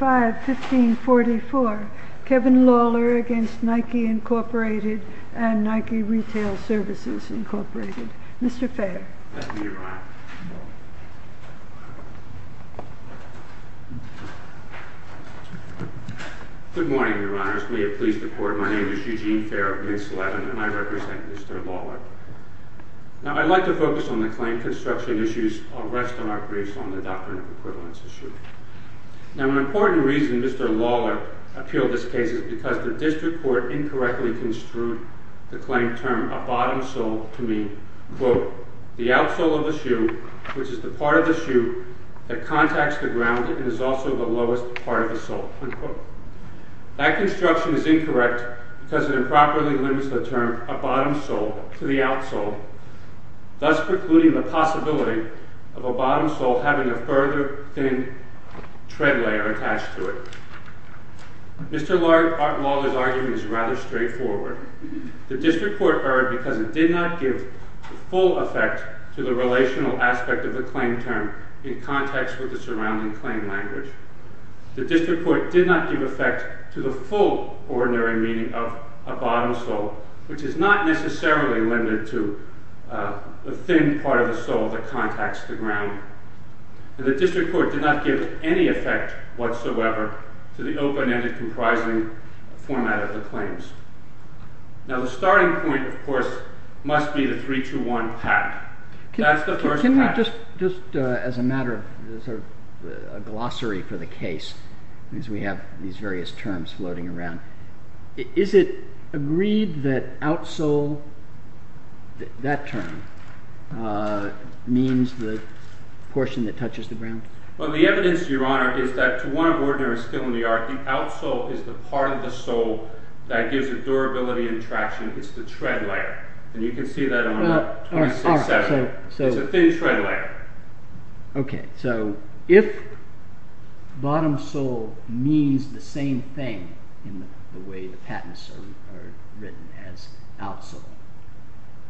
05-1544 Kevin Lawler v. Nike, Inc., Nike Retail Services Incorporated. Mr. Fair. Thank you, Your Honor. Good morning, Your Honors. May it please the Court, my name is Eugene Fair of Mintz 11 and I represent Mr. Lawler. Now I'd like to focus on the claim construction issues, I'll rest on our briefs on the doctrine of equivalence issue. Now an important reason Mr. Lawler appealed this case is because the district court incorrectly construed the claim term a bottom sole to mean, quote, the outsole of the shoe, which is the part of the shoe that contacts the ground and is also the lowest part of the sole, unquote. That construction is incorrect because it improperly limits the term a bottom sole to the outsole, thus precluding the possibility of a bottom sole having a further thin tread layer attached to it. Mr. Lawler's argument is rather straightforward. The district court erred because it did not give full effect to the relational aspect of the claim term in context with the surrounding claim language. The district court did not give effect to the full ordinary meaning of a bottom sole, which is not necessarily limited to a thin part of the sole that contacts the ground. The district court did not give any effect whatsoever to the open-ended comprising format of the claims. Now the starting point of course must be the 3-2-1 pact. That's the first pact. Can we just as a matter of glossary for the case, as we have these various terms floating around, is it agreed that outsole, that term, means the portion that touches the ground? Well, the evidence, Your Honor, is that to one of the ordinaries still in the archy, outsole is the part of the sole that gives it durability and traction. It's the tread layer, and you can see that on 26-7. It's a thin tread layer. Okay, so if bottom sole means the same thing in the way the patents are written as outsole,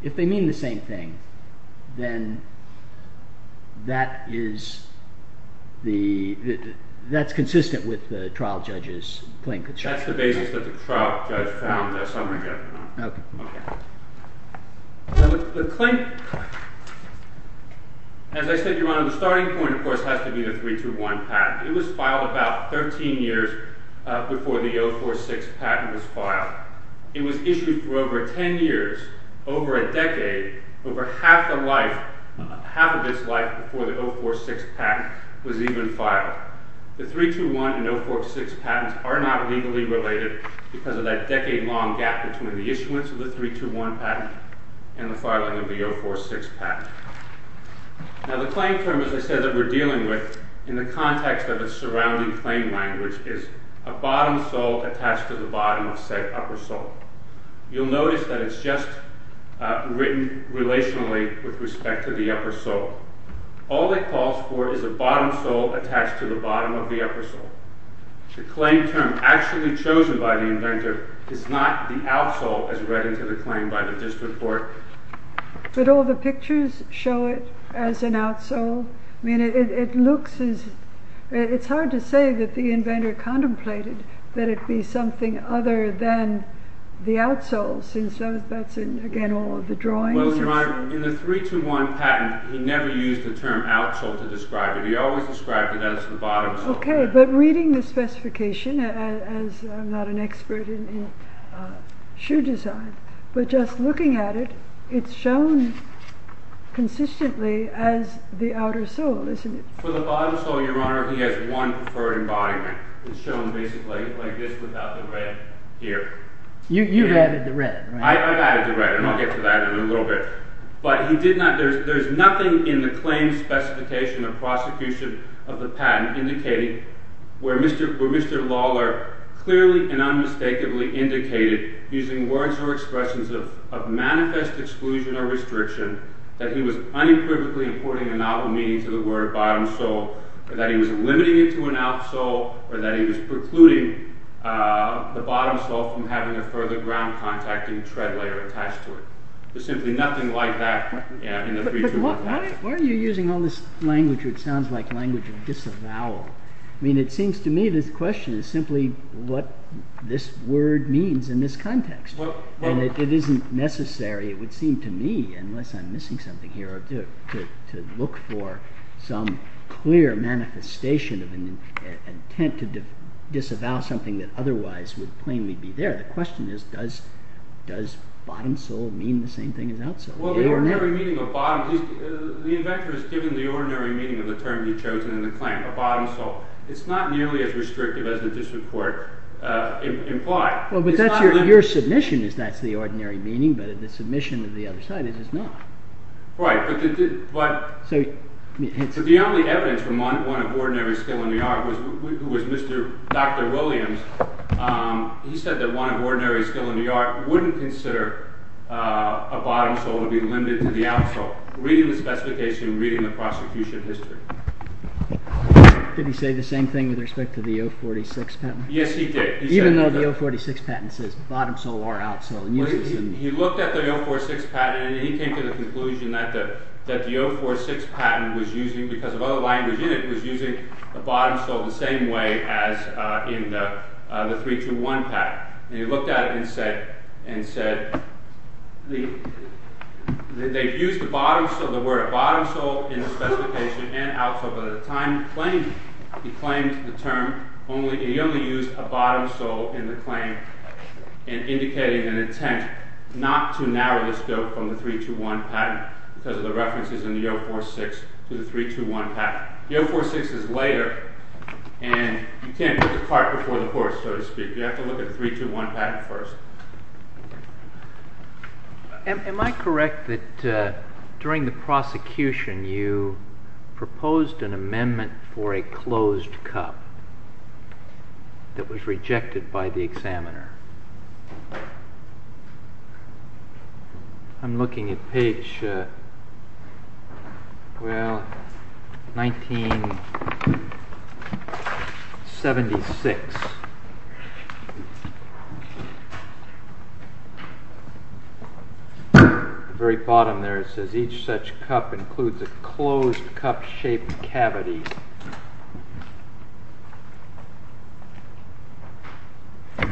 if they mean the same thing, then that is the, that's consistent with the trial judge's claim construction. That's the basis that the trial judge found this, I'm going to get to that. The claim, as I said, Your Honor, the starting point of course has to be the 3-2-1 pact. It was filed about 13 years before the 0-4-6 patent was filed. It was issued for over 10 years, over a decade, over half the life, half of its life before the 0-4-6 patent was even filed. The 3-2-1 and 0-4-6 patents are not legally related because of that decade long gap between the issuance of the 3-2-1 patent and the filing of the 0-4-6 patent. Now the claim term, as I said, that we're dealing with in the context of its surrounding claim language is a bottom sole attached to the bottom of said upper sole. You'll notice that it's just written relationally with respect to the upper sole. All it calls for is a bottom sole attached to the bottom of the upper sole. The claim term actually chosen by the inventor is not the out sole as read into the claim by the district court. But all the pictures show it as an out sole? It's hard to say that the inventor contemplated that it be something other than the out sole since that's in, again, all of the drawings. Well, Your Honor, in the 3-2-1 patent he never used the term out sole to describe it. He always described it as the bottom sole. Okay, but reading the specification, as I'm not an expert in shoe design, but just looking at it, it's shown consistently as the outer sole, isn't it? For the bottom sole, Your Honor, he has one preferred embodiment. It's shown basically like this without the red here. You've added the red, right? I've added the red, and I'll get to that in a little bit. But there's nothing in the where Mr. Lawler clearly and unmistakably indicated, using words or expressions of manifest exclusion or restriction, that he was unequivocally importing a novel meaning to the word bottom sole, or that he was limiting it to an out sole, or that he was precluding the bottom sole from having a further ground contacting tread layer attached to it. There's simply nothing like that in the 3-2-1 patent. Why are you using all this language which sounds like language of disavowal? I mean, it seems to me this question is simply what this word means in this context. And it isn't necessary, it would seem to me, unless I'm missing something here, to look for some clear manifestation of an intent to disavow something that otherwise would plainly be there. The question is, does bottom sole mean the same thing as out sole? Well, the ordinary meaning of bottom, the inventor has given the ordinary meaning of the term he's chosen in the claim, a bottom sole. It's not nearly as restrictive as the district court implied. Well, but your submission is that's the ordinary meaning, but the submission of the other side is it's not. Right, but the only evidence from one of ordinary skill in the art, who was Dr. Williams, he wouldn't consider a bottom sole to be limited to the out sole, reading the specification, reading the prosecution history. Did he say the same thing with respect to the 046 patent? Yes, he did. Even though the 046 patent says bottom sole or out sole. He looked at the 046 patent and he came to the conclusion that the 046 patent was using, because of all the language in it, was using the bottom sole the same way as in the 3-2-1 patent. He looked at it and said, they've used the word bottom sole in the specification and out sole, but at the time he claimed the term, he only used a bottom sole in the claim in indicating an intent not to narrow the scope from the 3-2-1 patent because of the references in the 046 to the 3-2-1 patent. The 046 is later and you can't put the cart before the horse, so to speak. You have to look at the 3-2-1 patent first. Am I correct that during the prosecution you proposed an amendment for a closed cup that was rejected by the examiner? I'm looking at page, well, 1976. At the very bottom there it says each such cup includes a closed cup shaped cavity. And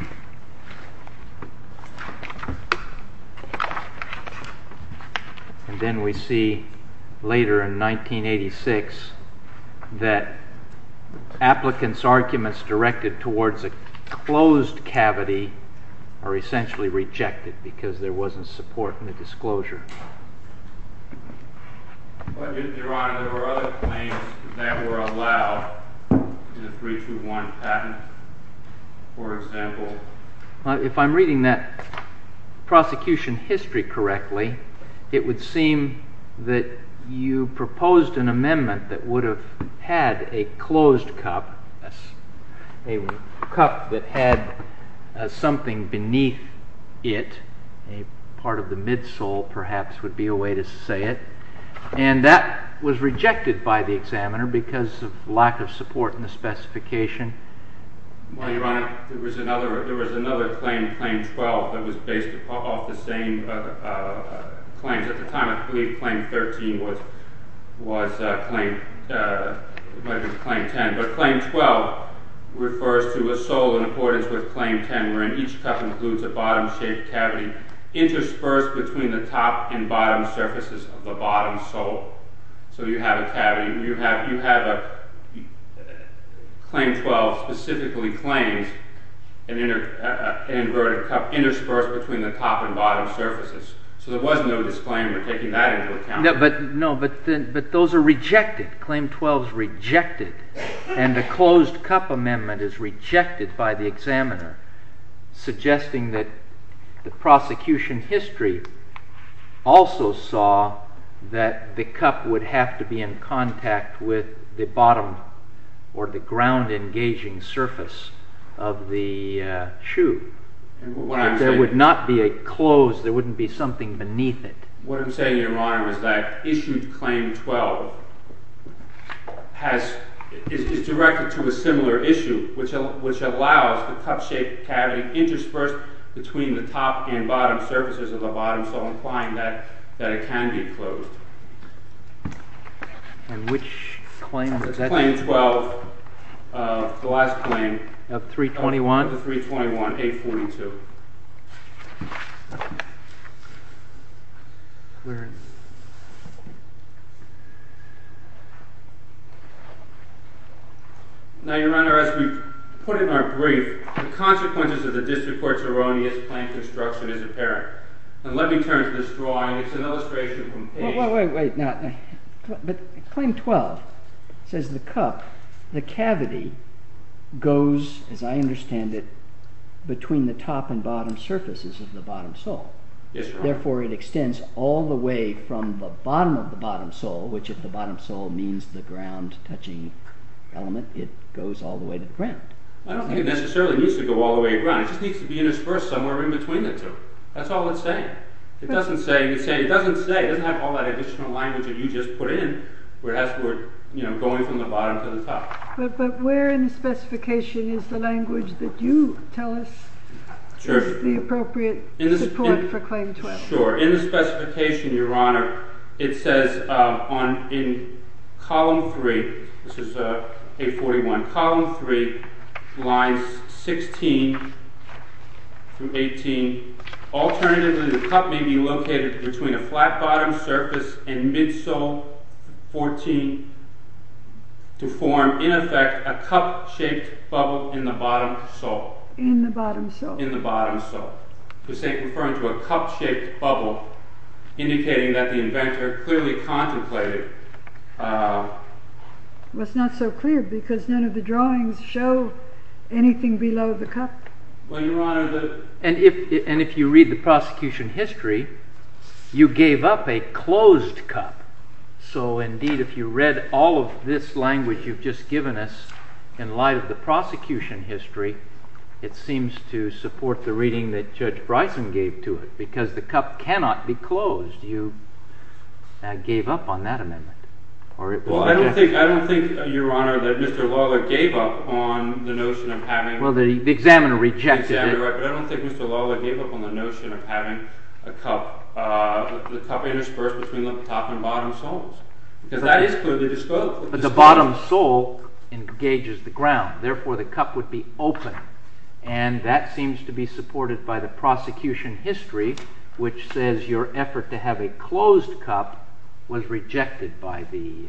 then we see later in 1986 that applicants' arguments directed towards a closed cavity are essentially rejected because there wasn't support in the disclosure. Your Honor, there were other claims that were allowed in the 3-2-1 patent, for example. If I'm reading that prosecution history correctly, it would seem that you proposed an amendment that would have had a closed cup, a cup that had something beneath it, a part of the midsole perhaps would be a way to say it. And that was rejected by the examiner because of lack of support in the specification. Well, Your Honor, there was another claim, Claim 12, that was based off the same claims. At the time, I believe Claim 13 was Claim 10. But Claim 12 refers to a sole in accordance with Claim 10 wherein each cup includes a cavity interspersed between the top and bottom surfaces of the bottom sole. So you have a cavity, you have Claim 12 specifically claims an inverted cup interspersed between the top and bottom surfaces. So there was no disclaimer taking that into account. No, but those are rejected. Claim 12 is rejected. And the closed cup amendment is rejected by the examiner, suggesting that the prosecution history also saw that the cup would have to be in contact with the bottom or the ground engaging surface of the shoe. There would not be a closed, there wouldn't be something beneath it. What I'm saying, Your Honor, is that issued Claim 12 is directed to a similar issue, which allows the cup-shaped cavity interspersed between the top and bottom surfaces of the bottom sole, implying that it can be closed. And which claim is that? Claim 12, the last claim. Of 321? Of 321, 842. Clearance. Now, Your Honor, as we put in our brief, the consequences of the district court's erroneous plan construction is apparent. And let me turn to this drawing. It's an illustration from page... Wait, wait, wait. But Claim 12 says the cup, the cavity, goes, as I understand it, between the top and bottom surfaces of the bottom sole. Yes, Your Honor. And therefore it extends all the way from the bottom of the bottom sole, which if the bottom sole means the ground-touching element, it goes all the way to the ground. I don't think it necessarily needs to go all the way to the ground. It just needs to be interspersed somewhere in between the two. That's all it's saying. It doesn't say, it doesn't have all that additional language that you just put in, where it has to go from the bottom to the top. But where in the specification is the language that you tell us is the appropriate support for Claim 12? Sure. In the specification, Your Honor, it says in column 3, this is page 41, column 3, lines 16 through 18, alternatively the cup may be located between a flat bottom surface and midsole 14 to form, in effect, a cup-shaped bubble in the bottom sole. In the bottom sole. It's referring to a cup-shaped bubble, indicating that the inventor clearly contemplated... Well, it's not so clear because none of the drawings show anything below the cup. Well, Your Honor, and if you read the prosecution history, you gave up a closed cup. So, indeed, if you read all of this language you've just given us, in light of the prosecution history, it seems to support the reading that Judge Bryson gave to it, because the cup cannot be closed. You gave up on that amendment. Well, I don't think, Your Honor, that Mr. Lawler gave up on the notion of having... Well, the examiner rejected it. The examiner, right, but I don't think Mr. Lawler gave up on the notion of having a cup, the cup interspersed between the top and bottom soles, because that is clearly disclosed. But the bottom sole engages the ground, therefore the cup would be open, and that seems to be supported by the prosecution history, which says your effort to have a closed cup was rejected by the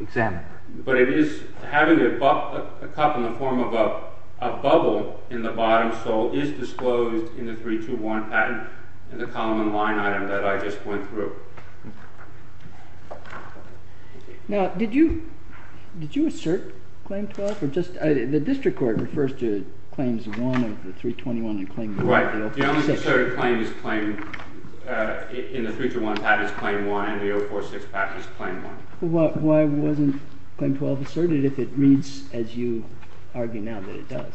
examiner. But it is, having a cup in the form of a bubble in the bottom sole is disclosed in the 3-2-1 patent in the column and line item that I just went through. Now, did you assert Claim 12? The district court refers to Claims 1 of the 3-2-1 and Claim 1 of the 0-4-6. Right. The only asserted claim in the 3-2-1 patent is Claim 1 and the 0-4-6 patent is Claim 1. Why wasn't Claim 12 asserted if it reads as you argue now that it does?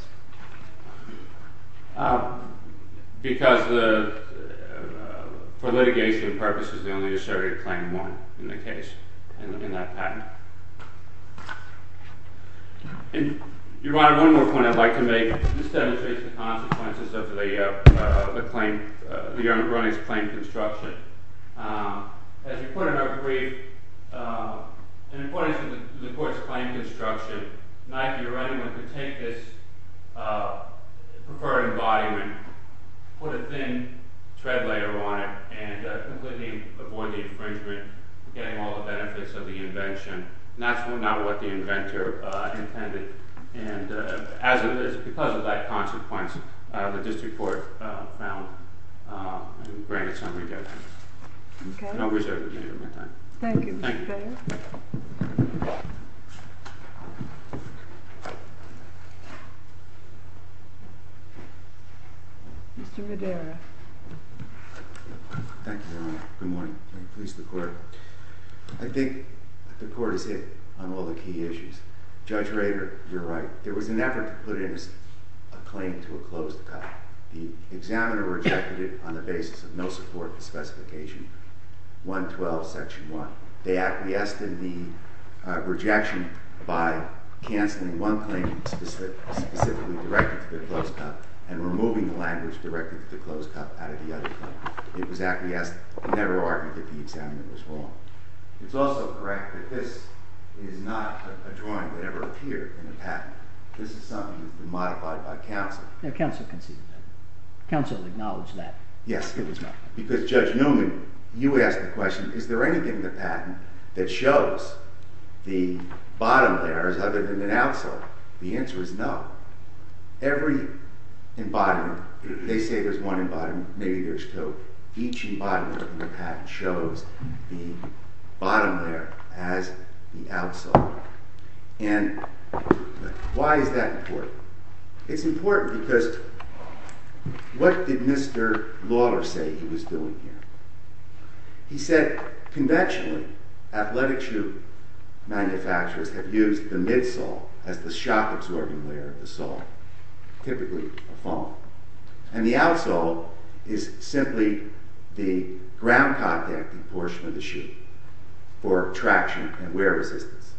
Because for litigation purposes, they only asserted Claim 1 in the case, in that patent. Your Honor, one more point I would like to make. This demonstrates the consequences of the claim, the Your Honor's growing claim construction. As reported in our brief, in accordance with the court's claim construction, Nike or anyone could take this preferred embodiment, put a thin tread layer on it, and completely avoid the infringement, getting all the benefits of the invention. That's not what the inventor intended. And as it is, because of that consequence, the district court found and granted some Okay. Thank you. Mr. Madera. Thank you, Your Honor. Good morning. I think the court is hit on all the key issues. Judge Rader, you're right. There was an effort to put in a claim to a closed cut. The examiner rejected it on the basis of no support for Specification 112, Section 1. They acquiesced in the rejection by canceling one claim specifically directed to the closed cut and removing the language directed to the closed cut out of the other claim. It was acquiesced. They never argued that the examiner was wrong. It's also correct that this is not a drawing that ever appeared in the patent. This is something that has been modified by counsel. Counsel conceded that. Counsel acknowledged that. Yes, it was modified. Because Judge Newman, you asked the question, is there anything in the patent that shows the bottom layers other than an outsole? The answer is no. Every embodiment, they say there's one embodiment, maybe there's two. Each embodiment in the patent shows the bottom layer as the outsole. And why is that important? It's important because what did Mr. Lawler say he was doing here? He said conventionally, athletic shoe manufacturers have used the midsole as the shock-absorbing layer of the sole, typically a foam. And the outsole is simply the ground contact portion of the shoe for traction and wear resistance.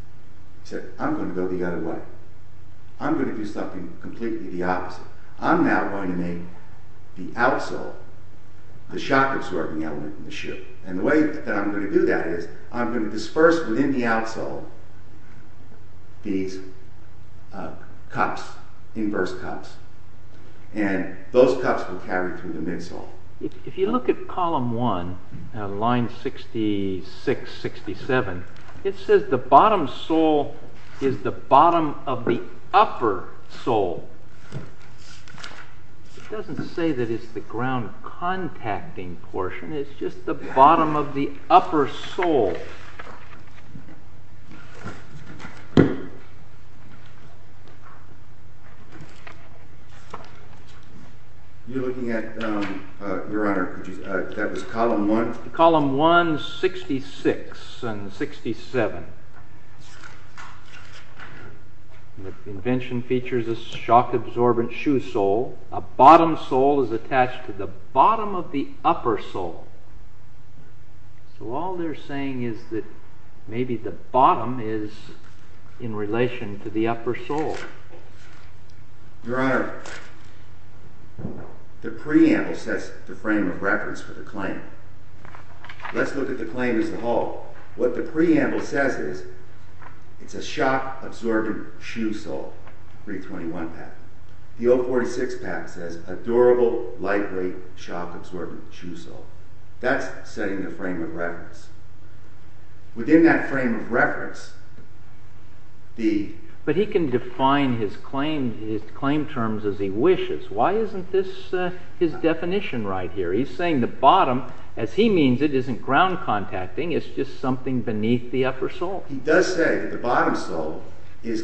He said, I'm going to go the other way. I'm going to do something completely the opposite. I'm now going to make the outsole the shock-absorbing element in the shoe. And the way that I'm going to do that is I'm going to disperse within the outsole these cups, inverse cups. And those cups will carry through the midsole. If you look at column one, line 66-67, it says the bottom sole is the bottom of the upper sole. It doesn't say that it's the ground contacting portion, it's just the bottom of the upper sole. You're looking at, Your Honor, that was column one? Column one, 66 and 67. The convention features a shock-absorbent shoe sole. A bottom sole is attached to the bottom of the upper sole. So all they're saying is that maybe the bottom is in relation to the upper sole. Your Honor, the preamble says the frame of reference for the claim. Let's look at the claim as a whole. What the preamble says is it's a shock-absorbent shoe sole, 321 patent. The 046 patent says a durable, lightweight, shock-absorbent shoe sole. That's setting the frame of reference. Within that frame of reference, the... But he can define his claim terms as he wishes. Why isn't this his definition right here? He's saying the bottom, as he means it, isn't ground contacting, it's just something beneath the upper sole. He does say that the bottom sole is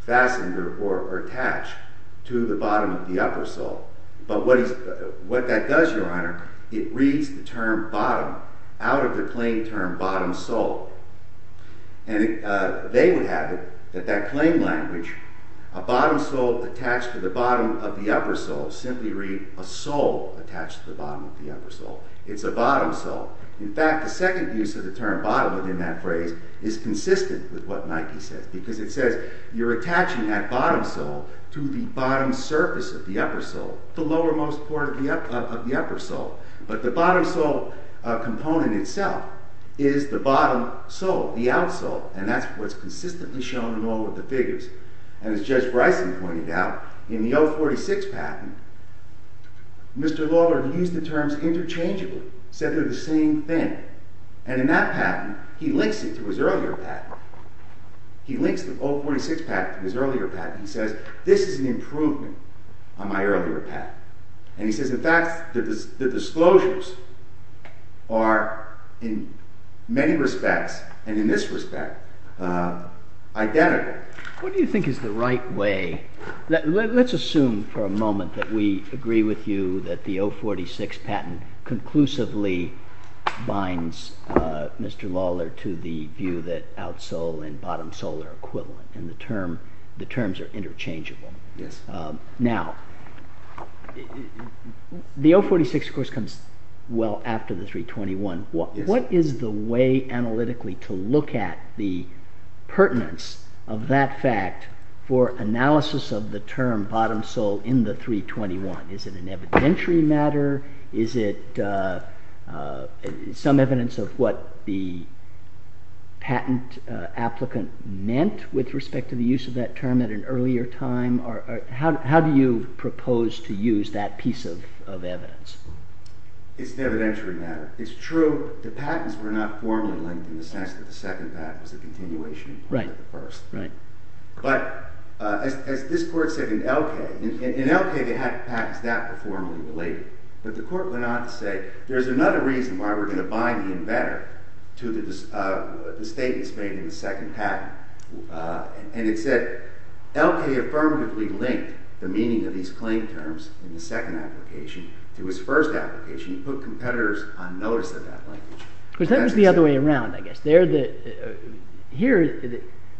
fastened or attached to the bottom of the upper sole. But what that does, Your Honor, it reads the term bottom out of the claim term bottom sole. They would have it that that claim language, a bottom sole attached to the bottom of the upper sole, simply read a sole attached to the bottom of the upper sole. It's a bottom sole. In fact, the second use of the term bottom within that phrase is consistent with what Nike says because it says you're attaching that bottom sole to the bottom surface of the upper sole, the lowermost part of the upper sole. But the bottom sole component itself is the bottom sole, the outsole, and that's what's consistently shown in all of the figures. And as Judge Bryson pointed out, in the 046 patent, Mr. Lawler used the terms interchangeably, said they're the same thing. And in that patent, he links it to his earlier patent. He links the 046 patent to his earlier patent. He says this is an improvement on my earlier patent. And he says, in fact, the disclosures are in many respects and in this respect identical. What do you think is the right way? Let's assume for a moment that we agree with you that the 046 patent conclusively binds Mr. Lawler to the view that outsole and bottom sole are equivalent and the terms are interchangeable. Yes. Now, the 046, of course, comes well after the 321. What is the way analytically to look at the pertinence of that fact for analysis of the term bottom sole in the 321? Is it an evidentiary matter? Is it some evidence of what the patent applicant meant with respect to the use of that term at an earlier time? How do you propose to use that piece of evidence? It's an evidentiary matter. It's true the patents were not formally linked in the sense that the second patent was a continuation of the first. But as this court said in LK, in LK the patents that were formally related. But the court went on to say there's another reason why we're going to bind the inventor to the statements made in the second patent. And it said LK affirmatively linked the meaning of these claim terms in the second application to his first application and put competitors on notice of that linkage. Because that was the other way around, I guess. Here,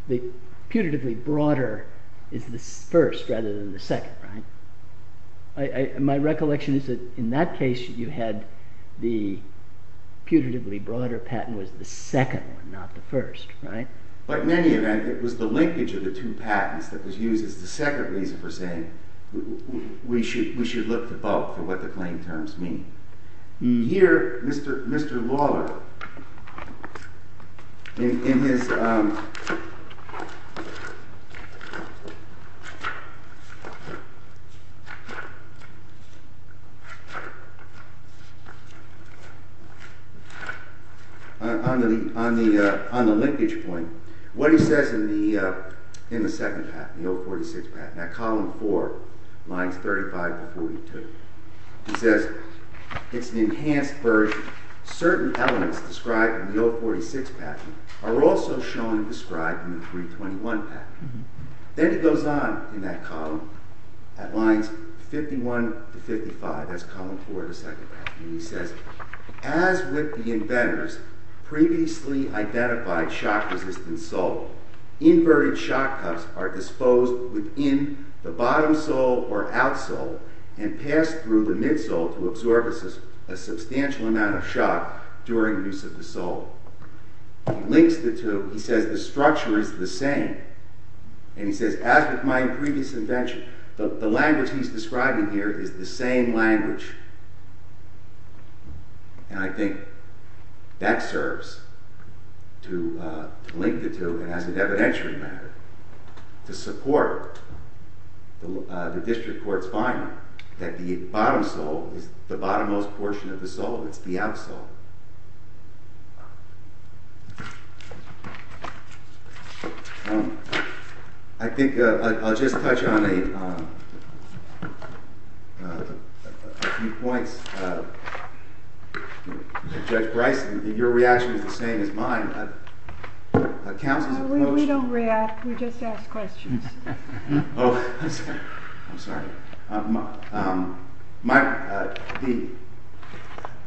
the putatively broader is the first rather than the second, right? My recollection is that in that case you had the putatively broader patent was the second one, not the first, right? But in any event, it was the linkage of the two patents that was used as the second reason for saying we should look to both for what the claim terms mean. Here, Mr. Lawler, on the linkage point, what he says in the second patent, the 046 patent, in that column four, lines 35 to 42, he says it's an enhanced version. Certain elements described in the 046 patent are also shown and described in the 321 patent. Then it goes on in that column at lines 51 to 55, that's column four of the second patent, and he says, as with the inventors, previously identified shock-resistant salt, inverted shock cups are disposed within the bottom sole or outsole and passed through the midsole to absorb a substantial amount of shock during the use of the sole. He links the two, he says the structure is the same. And he says, as with my previous invention, the language he's describing here is the same language. And I think that serves to link the two as an evidentiary matter to support the district court's finding that the bottom sole is the bottom-most portion of the sole, it's the outsole. I think I'll just touch on a few points. Judge Bryson, your reaction is the same as mine. Counsel's motion... No, we don't react, we just ask questions. Oh, I'm sorry. The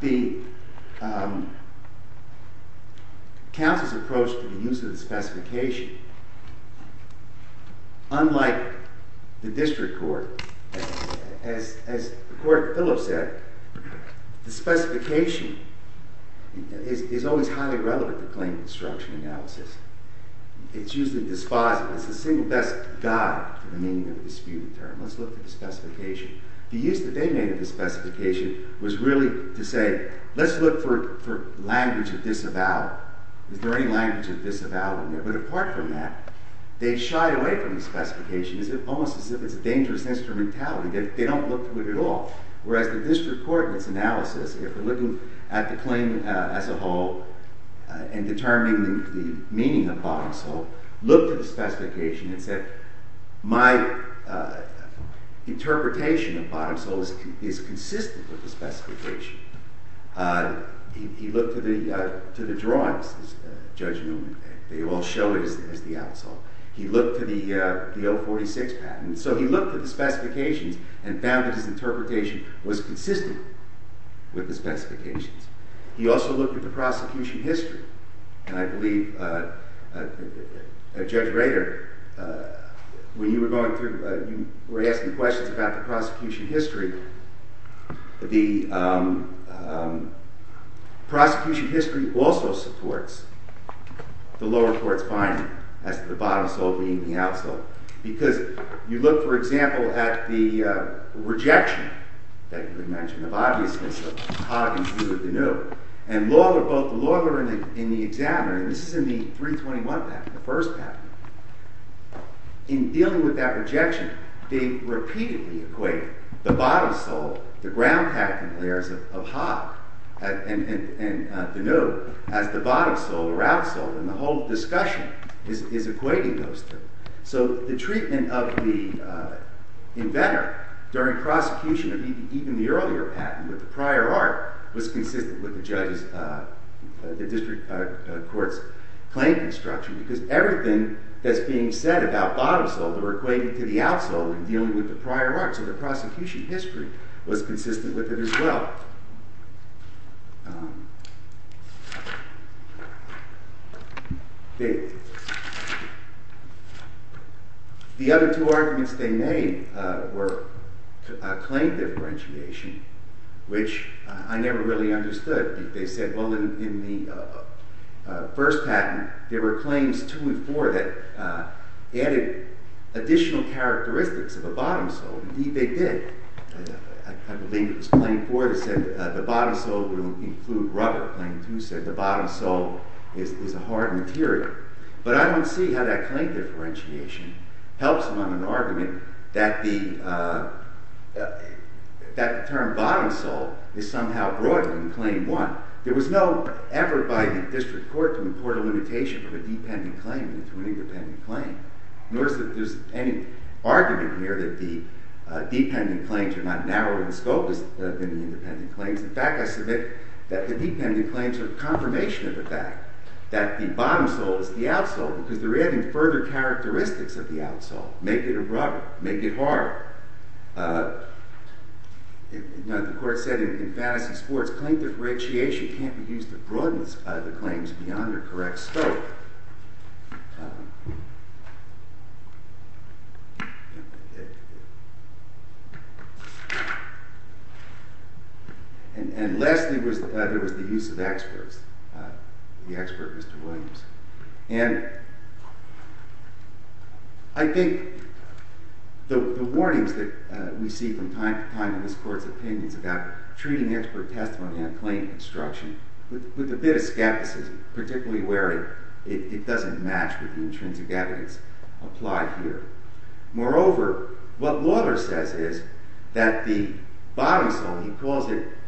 counsel's approach to the use of the specification, unlike the district court, as Court Pillow said, the specification is always highly relevant to claim construction analysis. It's usually dispositive. It's the single best guide to the meaning of the dispute term. Let's look at the specification. The use that they made of the specification was really to say, let's look for language of disavowal. Is there any language of disavowal? But apart from that, they shy away from the specification. It's almost as if it's a dangerous instrumentality. They don't look to it at all. Whereas the district court in its analysis, if we're looking at the claim as a whole and determining the meaning of bottom sole, looked at the specification and said, my interpretation of bottom sole is consistent with the specification. He looked to the drawings, Judge Newman. They all show it as the out sole. He looked to the 046 patent. So he looked at the specifications and found that his interpretation was consistent with the specifications. He also looked at the prosecution history. And I believe Judge Rader, when you were going through, you were asking questions about the prosecution history. The prosecution history also supports the lower court's finding as to the bottom sole being the out sole. Because you look, for example, at the rejection that you had mentioned of obviousness of Hogg and Deneuve. And both the lawyer and the examiner, and this is in the 321 patent, the first patent. In dealing with that rejection, they repeatedly equate the bottom sole, the ground patent layers of Hogg and Deneuve, as the bottom sole or out sole. And the whole discussion is equating those two. So the treatment of the inventor during prosecution of even the earlier patent with the prior art was consistent with the district court's claim construction. Because everything that's being said about bottom sole, they were equating to the out sole in dealing with the prior art. So the prosecution history was consistent with it as well. The other two arguments they made were claim differentiation, which I never really understood. They said, well, in the first patent, there were claims two and four that added additional characteristics of a bottom sole. Indeed, they did. I believe it was claim four that said the bottom sole will include rubber. Claim two said the bottom sole is a hard material. But I don't see how that claim differentiation helps among an argument that the term bottom sole is somehow broader than claim one. There was no effort by the district court to import a limitation of a dependent claim into an independent claim. Nor is there any argument here that the dependent claims are not narrower in scope than the independent claims. In fact, I submit that the dependent claims are confirmation of the fact that the bottom sole is the out sole because they're adding further characteristics of the out sole. Make it a rubber. Make it hard. The court said in fantasy sports, claim differentiation can't be used to broaden the claims beyond their correct scope. And lastly, there was the use of experts, the expert Mr. Williams. And I think the warnings that we see from time to time in this court's opinions about treating expert testimony on claim construction with a bit of skepticism, particularly where it doesn't match with the intrinsic evidence applied here. Moreover, what Lawler says is that the bottom sole,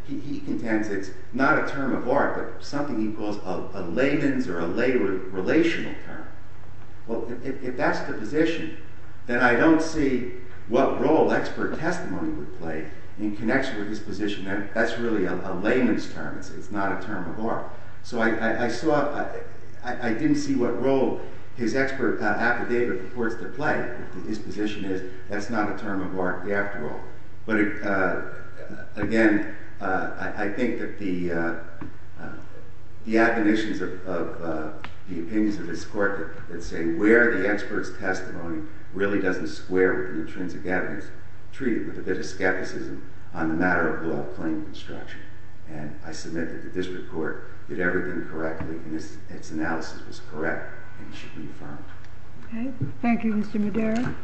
he contends it's not a term of art, but something he calls a layman's or a lay relational term. Well, if that's the position, then I don't see what role expert testimony would play in connection with his position. That's really a layman's term. It's not a term of art. So I didn't see what role his expert affidavit purports to play. His position is that's not a term of art after all. But again, I think that the admonitions of the opinions of this court that say where the expert's testimony really doesn't square with the intrinsic evidence, treat it with a bit of skepticism on the matter of law claim construction. And I submit that this report did everything correctly and its analysis was correct and should be affirmed. Thank you, Mr. Madera.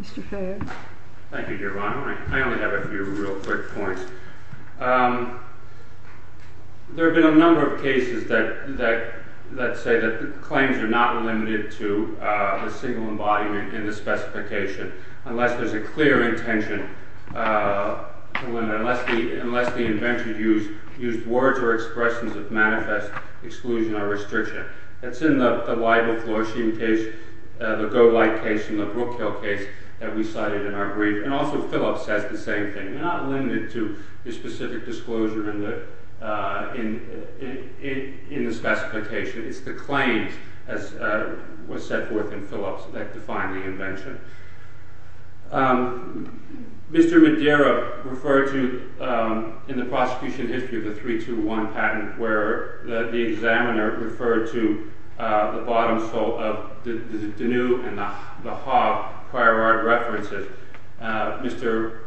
Mr. Fayette. Thank you, Your Honor. I only have a few real quick points. There have been a number of cases that say that claims are not limited to a single embodiment in the specification unless there's a clear intention. Unless the inventor used words or expressions of manifest exclusion or restriction. That's in the Weibel-Floschian case, the Golight case and the Brookhill case that we cited in our brief. And also Phillips says the same thing. They're not limited to the specific disclosure in the specification. It's the claims as was set forth in Phillips that define the invention. Mr. Madera referred to in the prosecution history of the 3-2-1 patent where the examiner referred to the bottom sole of the Deneu and the Hobb prior art references. Mr.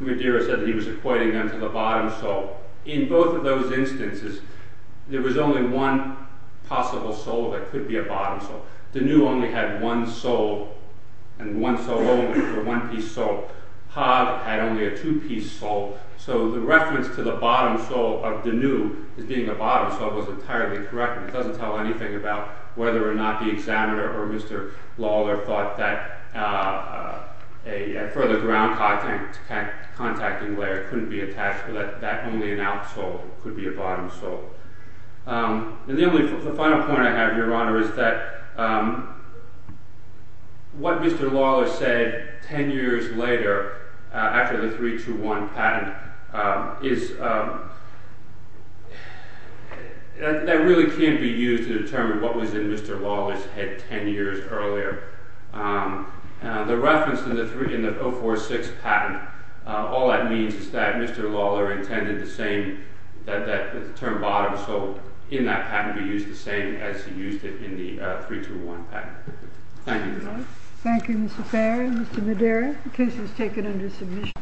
Madera said he was equating them to the bottom sole. In both of those instances, there was only one possible sole that could be a bottom sole. Deneu only had one sole and one sole only, or one-piece sole. Hobb had only a two-piece sole. So the reference to the bottom sole of Deneu as being a bottom sole was entirely correct. It doesn't tell anything about whether or not the examiner or Mr. Lawler thought that a further ground contacting layer couldn't be attached. That only an out sole could be a bottom sole. The final point I have, Your Honor, is that what Mr. Lawler said ten years later, after the 3-2-1 patent, that really can't be used to determine what was in Mr. Lawler's head ten years earlier. The reference in the 046 patent, all that means is that Mr. Lawler intended the term bottom sole in that patent to be used the same as he used it in the 3-2-1 patent. Thank you, Your Honor. Thank you, Mr. Perry. Mr. Madera, the case is taken under submission.